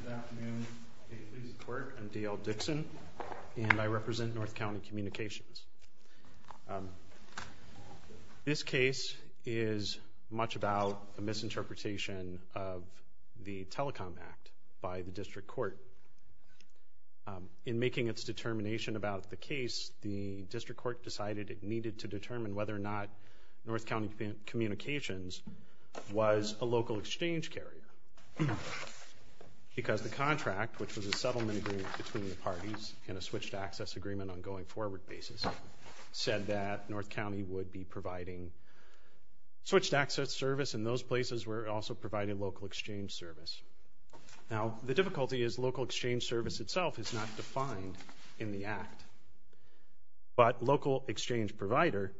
Good afternoon. I'm D.L. Dixon, and I represent North County Communications. This case is much about a misinterpretation of the Telecom Act by the district court. In making its determination about the case, the district court decided it needed to determine whether or not North County Communications was a local exchange carrier. Because the contract, which was a settlement agreement between the parties and a switched access agreement on a going forward basis, said that North County would be providing switched access service, and those places were also providing local exchange service. Now, the difficulty is local exchange service itself is not defined in the Act. But local exchange provider,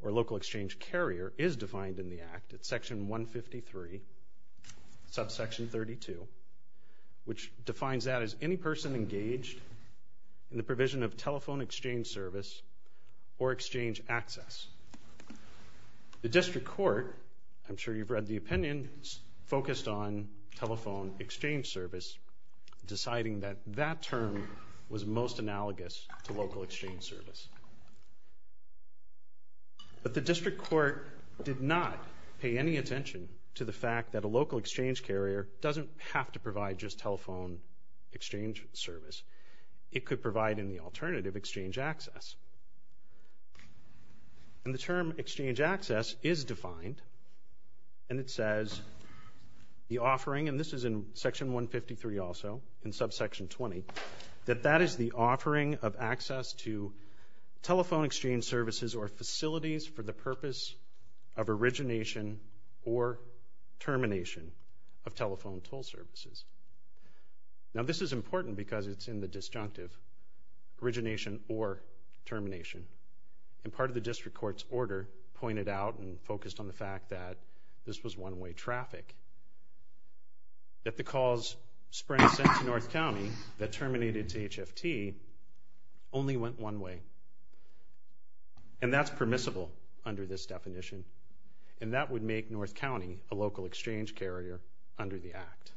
or local exchange carrier, is defined in the Act. It's section 153, subsection 32, which defines that as any person engaged in the provision of telephone exchange service or exchange access. The district court, I'm sure you've read the opinion, focused on telephone exchange service, deciding that that term was most analogous to local exchange service. But the district court did not pay any attention to the fact that a local exchange carrier doesn't have to provide just telephone exchange service. It could provide any alternative exchange access. And the term exchange access is defined, and it says the offering, and this is in section 153 also, in section 153, telephone exchange services or facilities for the purpose of origination or termination of telephone toll services. Now, this is important because it's in the disjunctive, origination or termination. And part of the district court's order pointed out and focused on the fact that this was one-way traffic, that the calls spring sent to North County that terminated to North County. And that's permissible under this definition. And that would make North County a local exchange carrier under the Act.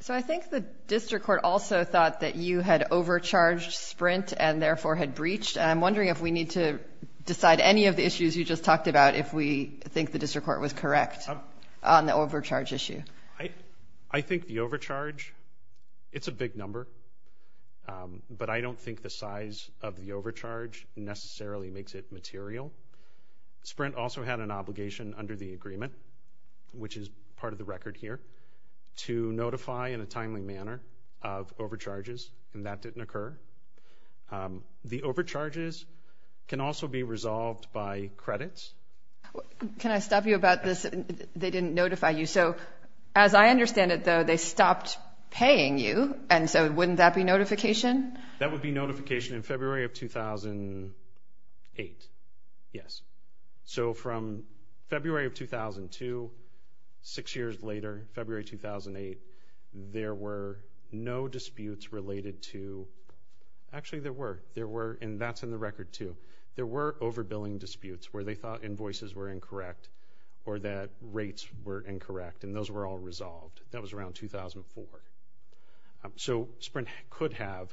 So I think the district court also thought that you had overcharged Sprint and therefore had breached. I'm wondering if we need to decide any of the issues you just talked about, if we think the district court was correct on the overcharge issue. I think the overcharge, it's a big number, but I don't think the size of the overcharge necessarily makes it material. Sprint also had an obligation under the agreement, which is part of the record here, to notify in a timely manner of overcharges, and that didn't occur. The overcharges can also be resolved by credits. Can I stop you about this? They didn't notify you. So as I understand it, though, they stopped paying you. And so wouldn't that be notification? That would be notification in February of 2008. Yes. So from February of 2002, six years later, February 2008, there were no disputes related to... Actually, there were. There were, and that's in the record too. There were overbilling disputes where they thought invoices were incorrect or that rates were incorrect, and those were all resolved. That was around 2004. So Sprint could have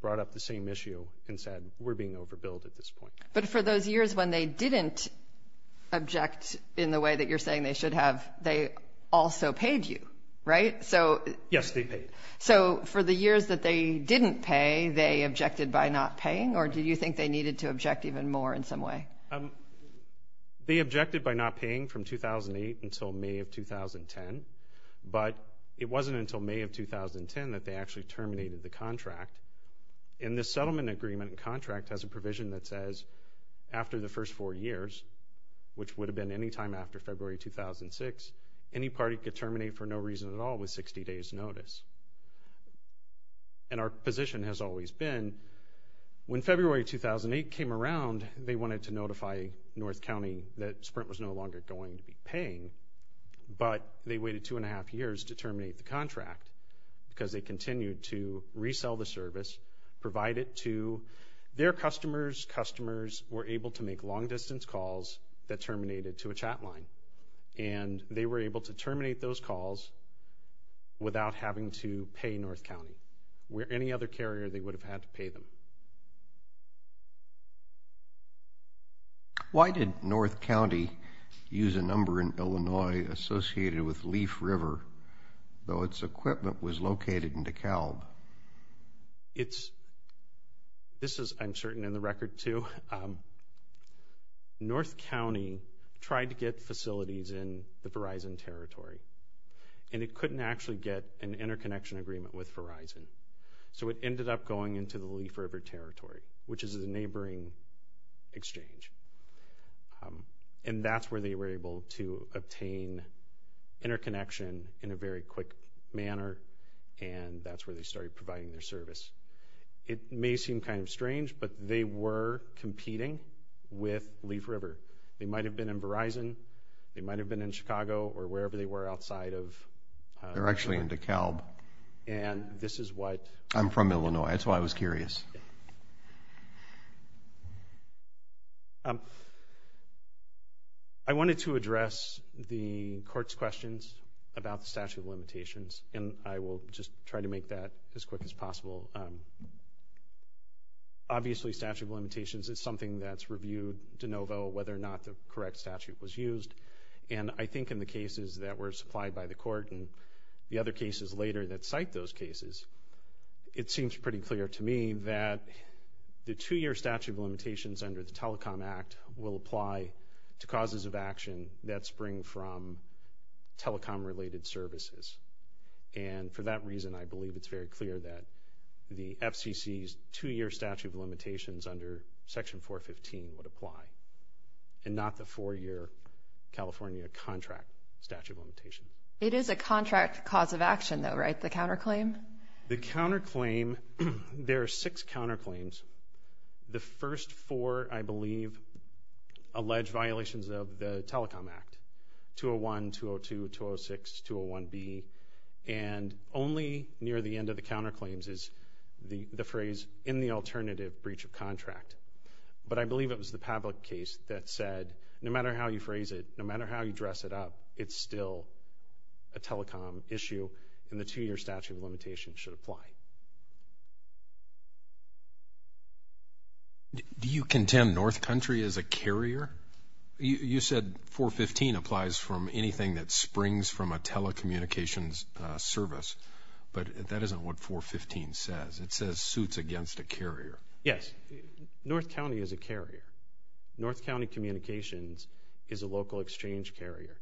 brought up the same issue and said, we're being overbilled at this point. But for those years when they didn't object in the way that you're saying they should have, they also paid you, right? Yes, they paid. So for the years that they didn't pay, they objected by not paying, or do you think they needed to object even more in some way? They objected by not paying from 2008 until May of 2010, but it wasn't until May of 2010 that they actually terminated the contract. And the settlement agreement contract has a provision that says, after the first four years, which would have been any time after February 2006, any party could terminate for no reason at all with 60 days notice. And our position has always been, when February 2008 came around, they wanted to notify North County that Sprint was no longer going to be paying, but they waited two and a half years to terminate the contract because they continued to resell the service, provide it to their customers. Customers were able to make long distance calls that terminated to a chat line, and they were able to terminate those calls without having to pay North County, where any other carrier they would have had to pay them. Why did North County use a number in Illinois associated with Leaf River, though its equipment was located in DeKalb? It's... This is uncertain in the record, too. North County tried to get facilities in the Verizon territory, and it couldn't actually get an interconnection agreement with Verizon. So it ended up going into the Leaf River territory, which is a neighboring exchange. And that's where they were able to obtain interconnection in a very quick manner, and that's where they started providing their service. It may seem kind of strange, but they were competing with Leaf River. They might have been in Verizon, they might have been in Chicago or wherever they were outside of... They're actually in DeKalb. And this is what... I'm from Illinois, that's why I was curious. I wanted to address the court's questions about the statute of limitations, and I will just try to make that as quick as possible. Obviously, statute of limitations is something that's reviewed de novo, whether or not the correct statute was used. And I think in the cases that were supplied by the court and the other cases later that cite those cases, it seems pretty clear to me that the two year statute of limitations under the Telecom Act will apply to causes of action that spring from telecom related services. And for that reason, I believe it's very clear that the FCC's two year statute of limitations under Section 415 would not be the four year California contract statute of limitation. It is a contract cause of action though, right? The counter claim? The counter claim, there are six counter claims. The first four, I believe, allege violations of the Telecom Act, 201, 202, 206, 201B. And only near the end of the counter claims is the phrase, in the alternative breach of contract. But I believe it was the Pavlik case that said, no matter how you phrase it, no matter how you dress it up, it's still a telecom issue, and the two year statute of limitations should apply. Do you contend North Country is a carrier? You said 415 applies from anything that springs from a telecommunications service, but that isn't what 415 says. It says suits against a carrier. Yes, North County is a carrier. North County Communications is a local exchange carrier.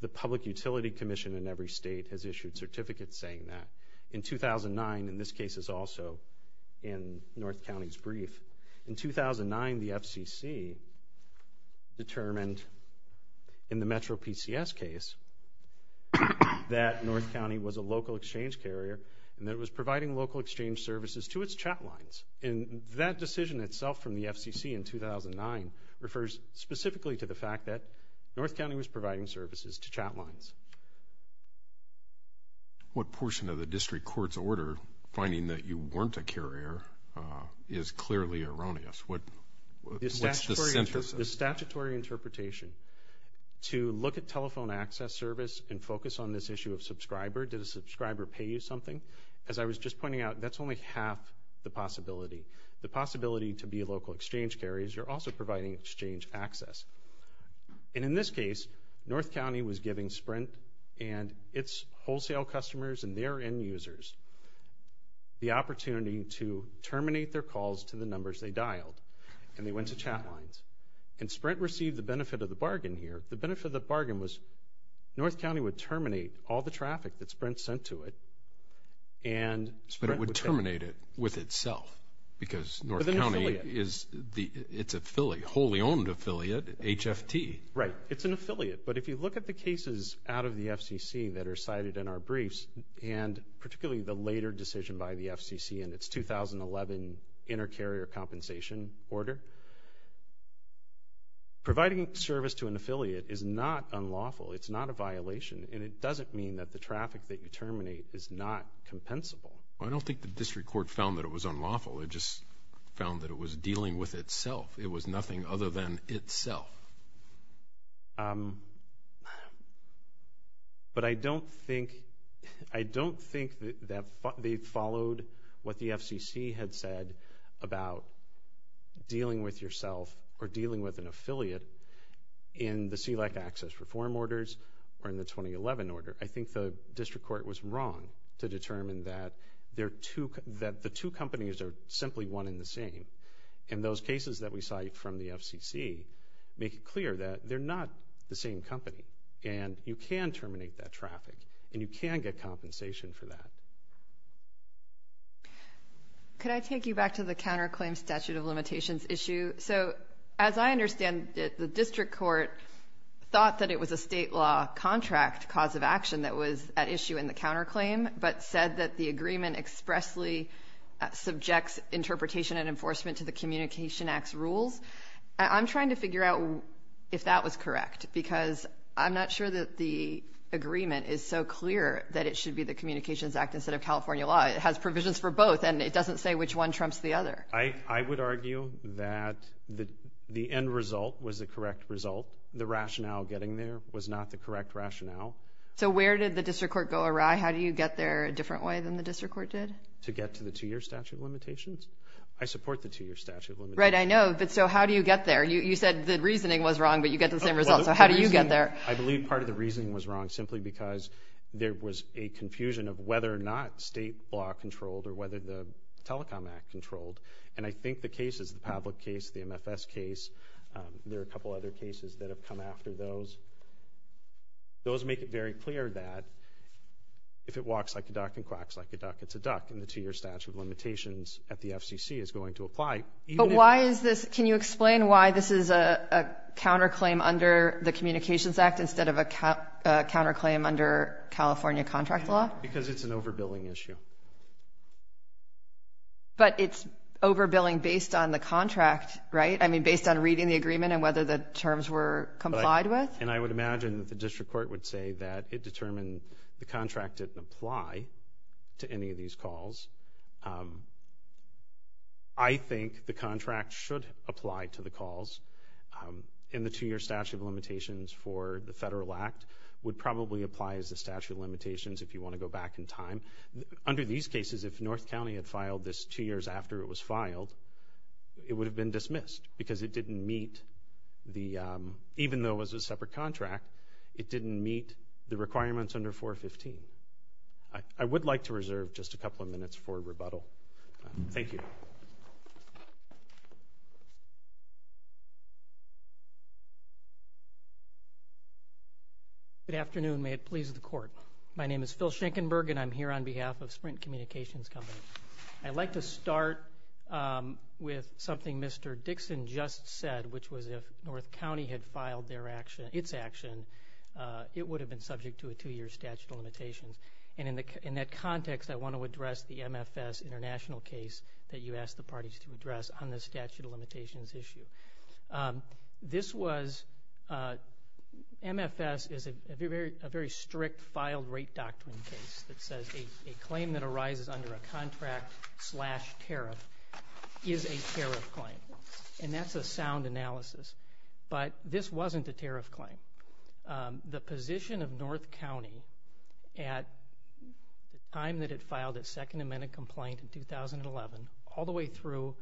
The Public Utility Commission in every state has issued certificates saying that. In 2009, and this case is also in North County's brief, in 2009, the FCC determined in the Metro PCS case that North County was a local exchange carrier and that it was providing local exchange services to its chat lines. And that decision itself from the FCC in 2009 refers specifically to the fact that North County was providing services to chat lines. What portion of the district court's order finding that you weren't a carrier is clearly erroneous? What's the sentence? The statutory interpretation to look at telephone access service and focus on this issue of subscriber? Did a subscriber pay you something? As I was just pointing out, that's only half the possibility. The possibility to be a local exchange carrier is you're also providing exchange access. And in this case, North County was giving Sprint and its wholesale customers and their end users the opportunity to terminate their calls to the numbers they dialed and they didn't receive the benefit of the bargain here. The benefit of the bargain was North County would terminate all the traffic that Sprint sent to it and... But it would terminate it with itself because North County is... It's a fully, wholly owned affiliate, HFT. Right. It's an affiliate. But if you look at the cases out of the FCC that are cited in our briefs and particularly the later decision by the FCC in its 2011 inter carrier compensation order, providing service to an affiliate is not unlawful. It's not a violation and it doesn't mean that the traffic that you terminate is not compensable. I don't think the district court found that it was unlawful. It just found that it was dealing with itself. It was nothing other than itself. But I don't think... I don't think that they followed what the FCC had said about dealing with yourself or dealing with an affiliate in the CLEC access reform orders or in the 2011 order. I think the district court was wrong to determine that the two companies are simply one in the same. And those cases that we cite from the FCC make it clear that they're not the same company and you can terminate that traffic and you can get compensation for that. Could I take you back to the counterclaim statute of limitations issue? So as I understand it, the district court thought that it was a state law contract cause of action that was at issue in the counterclaim, but said that the agreement expressly subjects interpretation and enforcement to the Communication Act's rules. I'm trying to figure out if that was correct because I'm not sure that the agreement is so clear that it should be the Communications Act instead of California law. It has provisions for both and it doesn't say which one trumps the other. I would argue that the end result was the correct result. The rationale getting there was not the correct rationale. So where did the district court go awry? How do you get there a different way than the district court did? To get to the two year statute of limitations. I support the two year statute of limitations. Right, I know, but so how do you get there? You said the reasoning was wrong, but you get the same result. So how do you get there? I believe part of the reasoning was wrong simply because there was a confusion of whether or not state law controlled or whether the Telecom Act controlled. And I think the cases, the Pavlik case, the MFS case, there are a couple other cases that have come after those. Those make it very clear that if it walks like a duck and quacks like a duck, it's a duck and the two year statute of limitations at the FCC is going to apply. But why is this... Can you make a counterclaim under the Communications Act instead of a counterclaim under California contract law? Because it's an overbilling issue. But it's overbilling based on the contract, right? I mean, based on reading the agreement and whether the terms were complied with? And I would imagine that the district court would say that it determined the contract didn't apply to any of these calls. I think the contract should apply to the calls and the two year statute of limitations for the Federal Act would probably apply as a statute of limitations if you wanna go back in time. Under these cases, if North County had filed this two years after it was filed, it would have been dismissed because it didn't meet the... Even though it was a separate contract, it didn't meet the requirements under 415. I would like to reserve just a couple of minutes for rebuttal. Thank you. Good afternoon, may it please the court. My name is Phil Shankenberg and I'm here on behalf of Sprint Communications Company. I'd like to start with something Mr. Dixon just said, which was if North County had filed their action, its action, it would have been subject to a two year statute of limitations. And in that context, I want to address the MFS international case that you asked the parties to address on the statute of limitations issue. This was... MFS is a very strict filed rate doctrine case that says a claim that arises under a contract slash tariff is a tariff claim. And that's a sound analysis. But this wasn't a tariff claim. The position of North County at the time that it filed its second amendment complaint in 2011, all the way through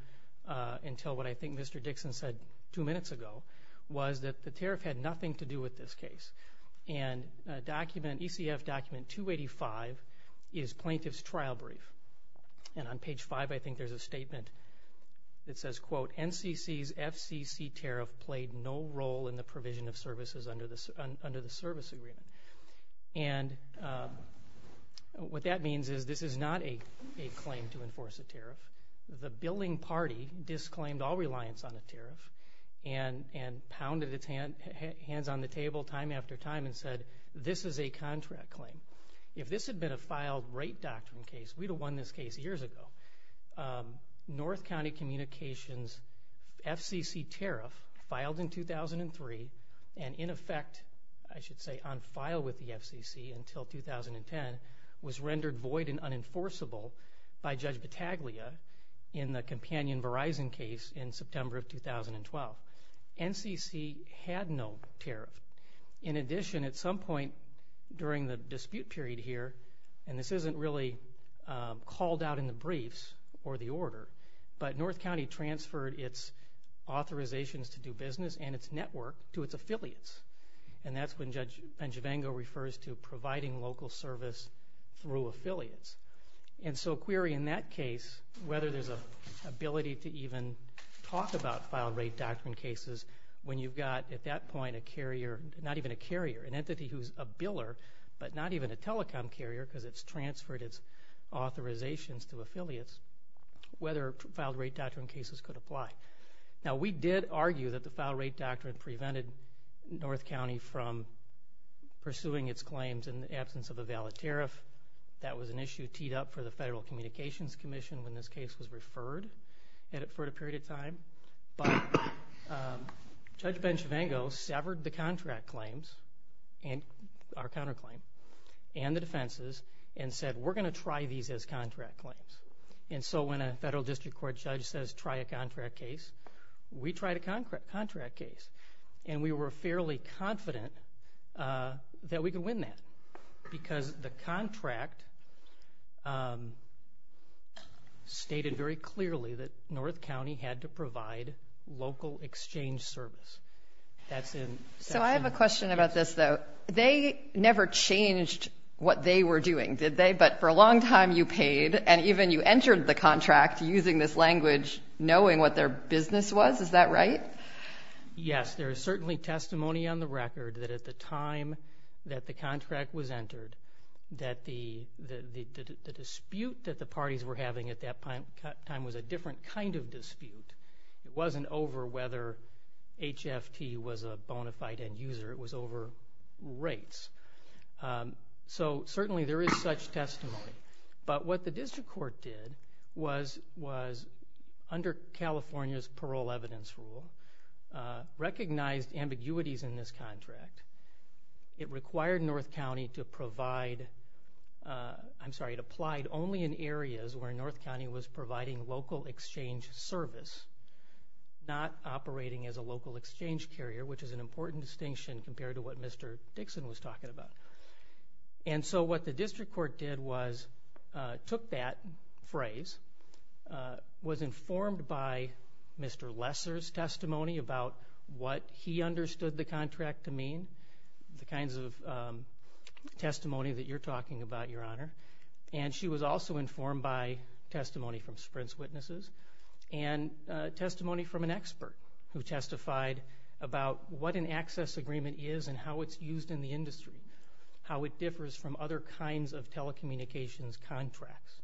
until what I think Mr. Dixon said two minutes ago, was that the tariff had nothing to do with this case. And a document, ECF document 285, is plaintiff's trial brief. And on page five, I think there's a statement that says, quote, NCC's FCC tariff played no role in the provision of services under the service agreement. And what that means is this is not a claim to enforce a tariff. The billing party disclaimed all reliance on a tariff and pounded its hands on the table time after time and said, this is a contract claim. If this had been a filed rate doctrine case, we'd have won this case years ago. North County Communications FCC tariff, filed in 2003 and in effect, I should say, on file with the FCC until 2010, was rendered void and unenforceable by Judge Battaglia in the companion Verizon case in September of 2012. NCC had no tariff. In addition, at some point during the dispute period here, and this isn't really called out in the briefs or the order, but North County transferred its authorizations to do business and its network to its affiliates. And that's when Judge Benjavengo refers to providing local service through affiliates. And so query in that case, whether there's an ability to even talk about filed rate doctrine cases when you've got, at that point, a carrier, not even a carrier, an entity who's a biller, but not even a telecom carrier, because it's transferred its authorizations to affiliates, whether filed rate doctrine cases could apply. Now, we did argue that the filed rate doctrine prevented North County from pursuing its claims in the absence of a valid tariff. That was an issue teed up for the Federal Communications Commission when this case was referred for a period of time. But Judge Benjavengo severed the contract claims, our counterclaim, and the defenses and said, we're gonna try these as contract claims. And so when a Federal District Court judge says, try a contract case, we tried a contract case. And we were fairly confident that we could win that, because the contract stated very clearly that North County had to provide local exchange service. That's in... So I have a question about this, though. They never changed what they were doing, did they? But for a long time, you paid, and even you entered the contract using this language knowing what their business was, is that right? Yes, there is certainly testimony on the record that at the time that the contract was entered, that the dispute that the parties were having at that time was a different kind of dispute. It wasn't over whether HFT was a bona fide end user, it was over rates. So certainly there is such testimony. But what the District Court did was, under California's parole evidence rule, recognized ambiguities in this contract. It required North County to provide... I'm sorry, it applied only in areas where North County was providing local exchange service, not operating as a local exchange carrier, which is an important distinction compared to what Mr. Dixon was talking about. And so what the District Court did was, took that phrase, was informed by Mr. Lesser's testimony about what he understood the contract to mean, the kinds of testimony that you're talking about, Your Honor. And she was also informed by testimony from Sprint's witnesses and testimony from an expert who testified about what an access agreement is and how it's used in the industry. How it differs from other kinds of telecommunications contracts.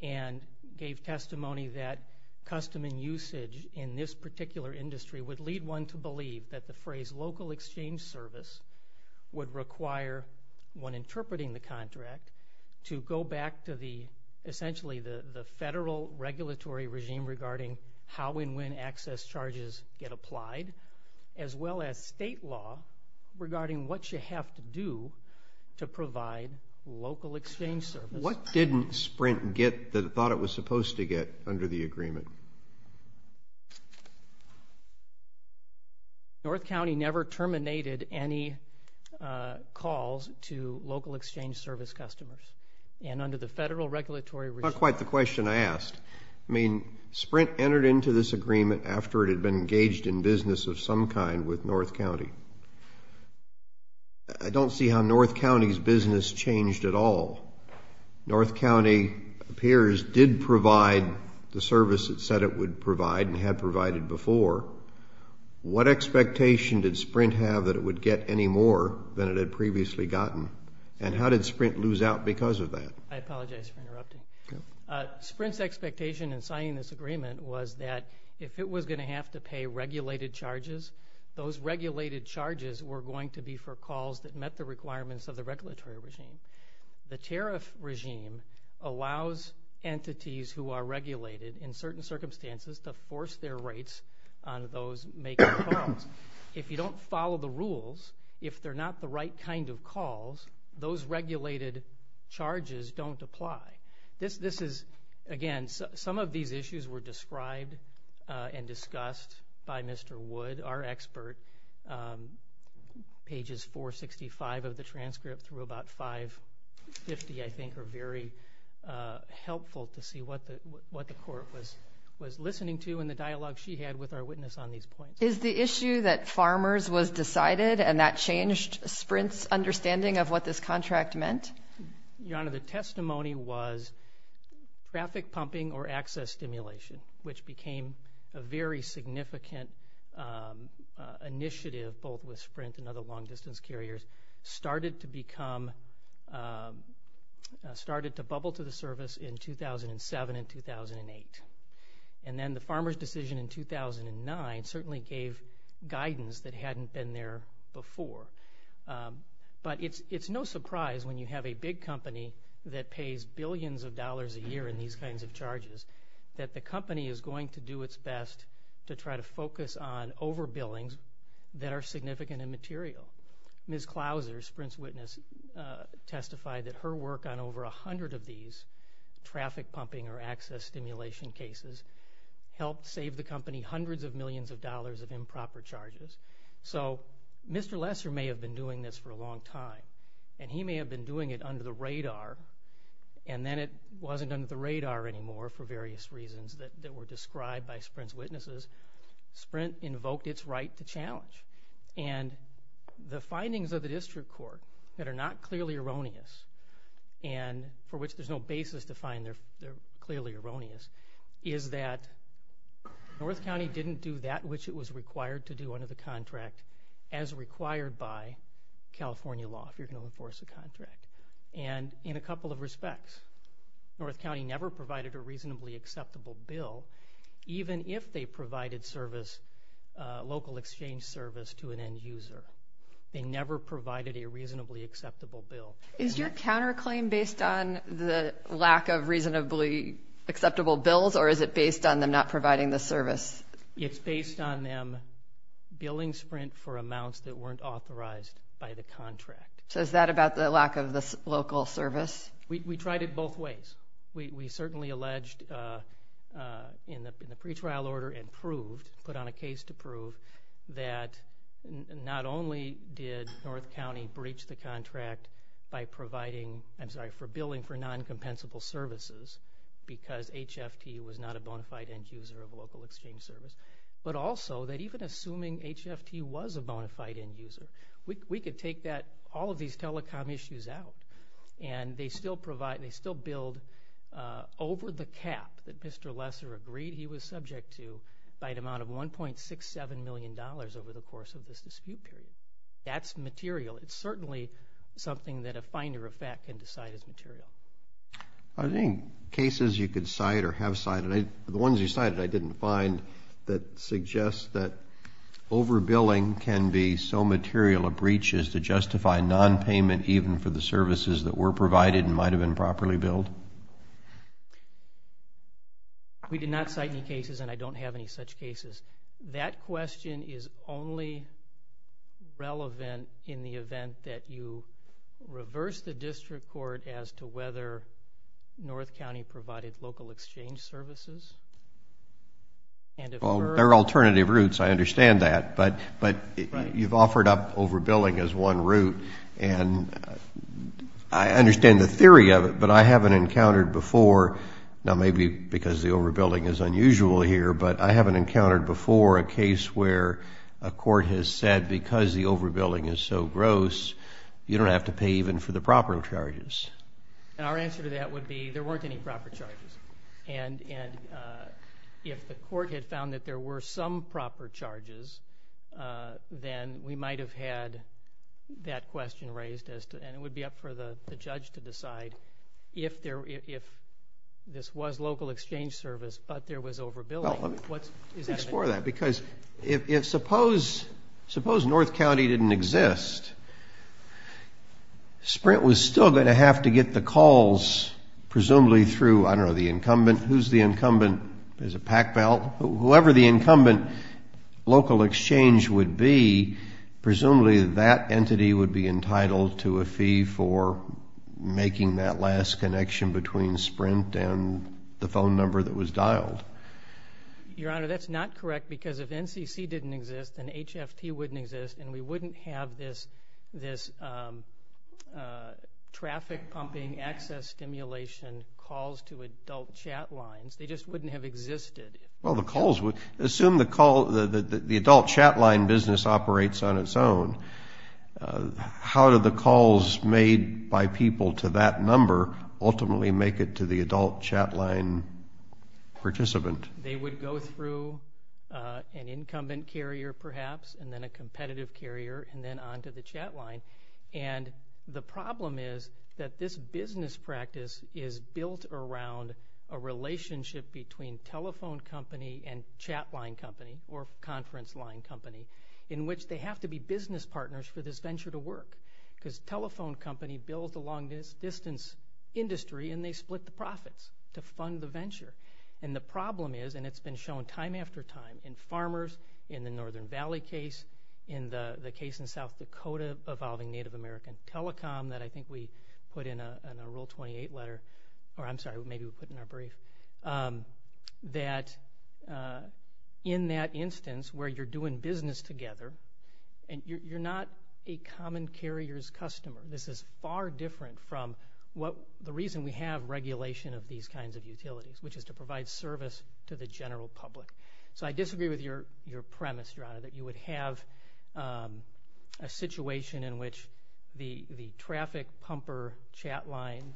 And gave testimony that custom and usage in this particular industry would lead one to believe that the phrase, local exchange service, would require, when interpreting the contract, to go back to the... Essentially the federal regulatory regime regarding how and when access charges get applied, as well as state law regarding what you have to do to provide local exchange service. What didn't Sprint get that it thought it was supposed to get under the agreement? North County never terminated any calls to local exchange service customers. And under the federal regulatory regime... Not quite the question I asked. Sprint entered into this agreement after it had been engaged in business of some kind with North County. I don't see how North County's business changed at all. North County, it appears, did provide the service it said it would provide and had provided before. What expectation did Sprint have that it would get any more than it had previously gotten? And how did Sprint lose out because of that? I apologize for interrupting. Sprint's expectation in signing this agreement was that if it was gonna have to pay regulated charges, those regulated charges were going to be for calls that met the requirements of the regulatory regime. The tariff regime allows entities who are regulated, in certain circumstances, to force their rates on those making calls. If you don't follow the rules, if they're not the right kind of calls, those regulated charges don't apply. This is, again, some of these issues were described and discussed by Mr. Wood, our expert. Pages 465 of the transcript through about 550, I think, are very helpful to see what the court was listening to and the dialogue she had with our witness on these points. Is the issue that farmers was decided and that changed Sprint's understanding of what this contract meant? Your Honor, the testimony was traffic pumping or access stimulation, which became a very significant initiative, both with Sprint and other long distance carriers, started to become... Started to bubble to the service in 2007 and 2008. And then the farmer's decision in 2009 certainly gave guidance that hadn't been there before. But it's no surprise when you have a big company that pays billions of dollars a year in these kinds of charges, that the company is going to do its best to try to focus on overbillings that are significant and material. Ms. Clouser, Sprint's witness, testified that her work on over 100 of these traffic pumping or access stimulation cases helped save the country. Mr. Lesser may have been doing this for a long time, and he may have been doing it under the radar, and then it wasn't under the radar anymore for various reasons that were described by Sprint's witnesses. Sprint invoked its right to challenge. And the findings of the district court that are not clearly erroneous, and for which there's no basis to find they're clearly erroneous, is that North County didn't do that which it was required to do under the contract as required by California law, if you're going to enforce a contract. And in a couple of respects, North County never provided a reasonably acceptable bill, even if they provided service, local exchange service, to an end user. They never provided a reasonably acceptable bill. Is your counterclaim based on the lack of reasonably acceptable bills, or is it based on them not providing the service? It's based on them billing Sprint for amounts that weren't authorized by the contract. So is that about the lack of the local service? We tried it both ways. We certainly alleged in the pretrial order and proved, put on a case to prove, that not only did North County breach the contract by providing, I'm sorry, for non-compensable services, because HFT was not a bonafide end user of a local exchange service, but also that even assuming HFT was a bonafide end user, we could take that, all of these telecom issues out. And they still provide, they still build over the cap that Mr. Lesser agreed he was subject to by an amount of $1.67 million over the course of this dispute period. That's material. It's I think cases you could cite or have cited, the ones you cited I didn't find, that suggests that over billing can be so material a breach is to justify non-payment even for the services that were provided and might have been properly billed. We did not cite any cases and I don't have any such cases. That question is only relevant in the event that you reverse the district court as to whether North County provided local exchange services. There are alternative routes, I understand that, but you've offered up over billing as one route and I understand the theory of it, but I haven't encountered before, now maybe because the over building is unusual here, but I haven't encountered before a case where a court has said because the proper charges. And our answer to that would be there weren't any proper charges and if the court had found that there were some proper charges, then we might have had that question raised as to, and it would be up for the judge to decide if there, if this was local exchange service but there was over billing. Let's explore that because if suppose, suppose North County didn't exist, Sprint was still going to have to get the calls presumably through, I don't know, the incumbent. Who's the incumbent? There's a pack belt. Whoever the incumbent local exchange would be, presumably that entity would be entitled to a fee for making that last connection between Sprint and the phone number that was dialed. Your Honor, that's not correct because if NCC didn't exist and HFT wouldn't exist and we wouldn't have this, this traffic pumping access stimulation calls to adult chat lines, they just wouldn't have existed. Well the calls would, assume the call, the adult chat line business operates on its own. How do the calls made by people to that number ultimately make it to the adult chat line participant? They would go through an incumbent carrier perhaps and then a competitive carrier and then onto the chat line and the problem is that this business practice is built around a relationship between telephone company and chat line company or conference line company in which they have to be business partners for this venture to work because telephone company built along this distance industry and they split the profits to fund the venture and the problem is and it's been shown time after time in Northern Valley case, in the the case in South Dakota evolving Native American telecom that I think we put in a rule 28 letter or I'm sorry maybe we put in our brief that in that instance where you're doing business together and you're not a common carriers customer. This is far different from what the reason we have regulation of these kinds of utilities which is to provide service to the restaurant that you would have a situation in which the traffic pumper chat line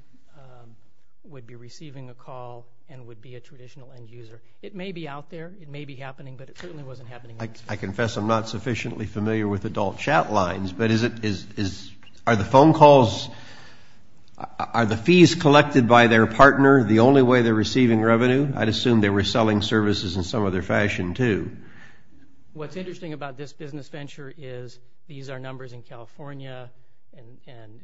would be receiving a call and would be a traditional end-user. It may be out there, it may be happening but it certainly wasn't happening. I confess I'm not sufficiently familiar with adult chat lines but is it is are the phone calls are the fees collected by their partner the only way they're receiving revenue? I'd assume they were selling services in some other fashion too. What is interesting about this business venture is these are numbers in California and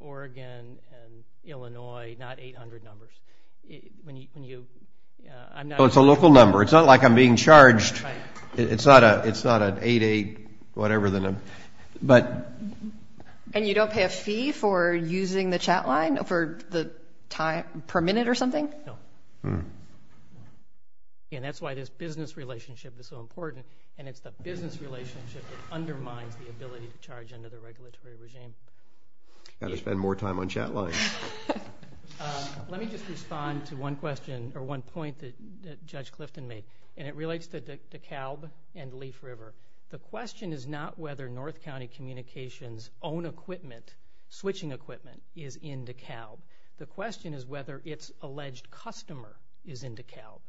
Oregon and Illinois not 800 numbers. It's a local number it's not like I'm being charged it's not a it's not an 8-8 whatever them but and you don't pay a fee for using the chat line for the time per minute or something? No. And that's why this business relationship is so important and it's the business relationship that undermines the ability to charge under the regulatory regime. Gotta spend more time on chat lines. Let me just respond to one question or one point that Judge Clifton made and it relates to DeKalb and Leaf River. The question is not whether North County Communications own equipment switching equipment is in DeKalb. The question is whether it's customer is in DeKalb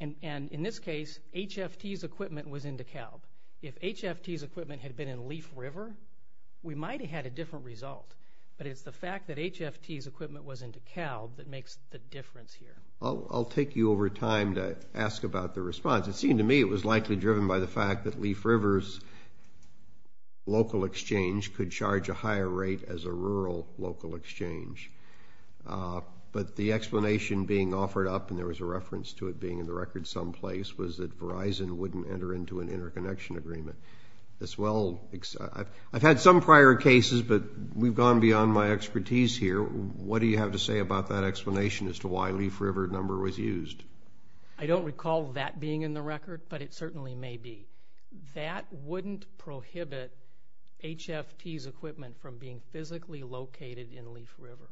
and in this case HFT's equipment was in DeKalb. If HFT's equipment had been in Leaf River we might have had a different result but it's the fact that HFT's equipment was in DeKalb that makes the difference here. I'll take you over time to ask about the response. It seemed to me it was likely driven by the fact that Leaf River's local exchange could charge a higher rate as a rural local exchange but the explanation being offered up and there was a reference to it being in the record someplace was that Verizon wouldn't enter into an interconnection agreement. I've had some prior cases but we've gone beyond my expertise here. What do you have to say about that explanation as to why Leaf River number was used? I don't recall that being in the record but it certainly may be. That wouldn't prohibit HFT's equipment from being physically located in Leaf River.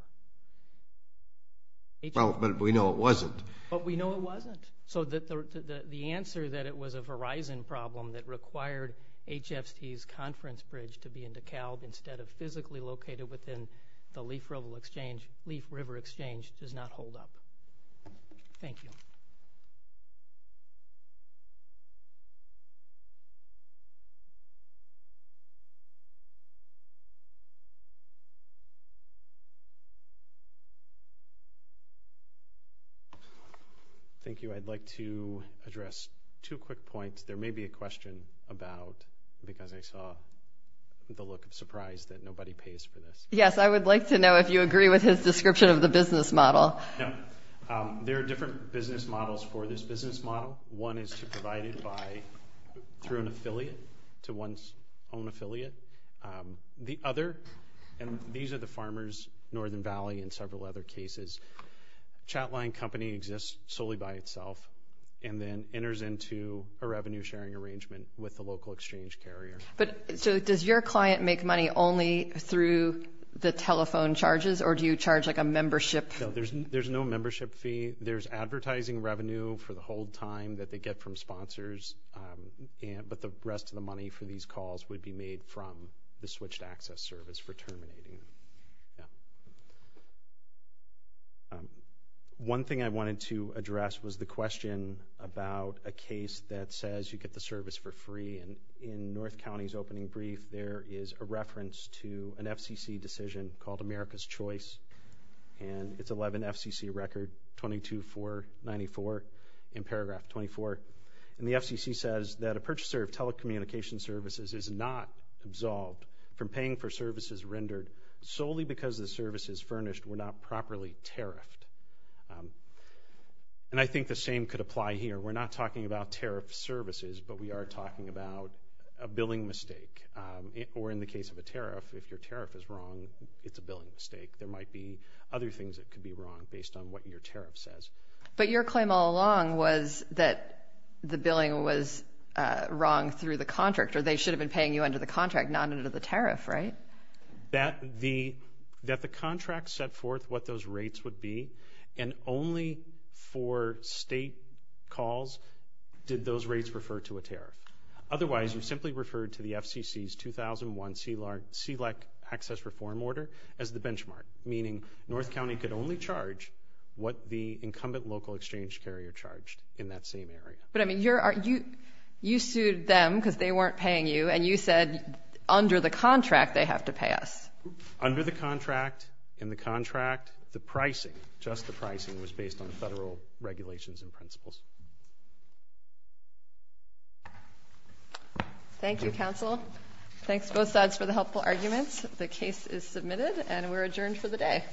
Well but we know it wasn't. But we know it wasn't so that the answer that it was a Verizon problem that required HFT's conference bridge to be in DeKalb instead of physically located within the Leaf River exchange does not hold up. Thank you. Thank you. I'd like to address two quick points. There may be a question about because I saw the look of surprise that nobody pays for this. Yes I would like to know if you agree with his description of the business model. There are different business models for this business model. One is to provide it by through an affiliate to one's own affiliate. The other and these are the farmers Northern Valley in several other cases. Chatline company exists solely by itself and then enters into a revenue sharing arrangement with the local exchange carrier. But so does your client make money only through the telephone charges or do you charge like a membership? No there's there's no membership fee. There's advertising revenue for the whole time that they get from sponsors. But the rest of the money for these calls would be made from the switched access service for terminating. One thing I wanted to address was the question about a case that says you get the service for free and in North County's opening brief there is a reference to an FCC decision called America's Choice and it's 11 FCC record 22494 in paragraph 24. And the FCC says that a purchaser of telecommunication services is not absolved from paying for services rendered solely because the services furnished were not properly tariffed. And I think the same could apply here. We're not talking about tariff services but we are talking about a billing mistake or in the case of a mistake there might be other things that could be wrong based on what your tariff says. But your claim all along was that the billing was wrong through the contract or they should have been paying you under the contract not under the tariff right? That the that the contract set forth what those rates would be and only for state calls did those rates refer to a tariff. Otherwise you simply referred to the FCC's 2001 CELAC access reform order as the benchmark. Meaning North County could only charge what the incumbent local exchange carrier charged in that same area. But I mean you're are you you sued them because they weren't paying you and you said under the contract they have to pay us. Under the contract in the contract the pricing just the pricing was based on federal regulations and principles. Thank you counsel. Thanks both sides for the helpful arguments. The case is submitted and we're adjourned for the day.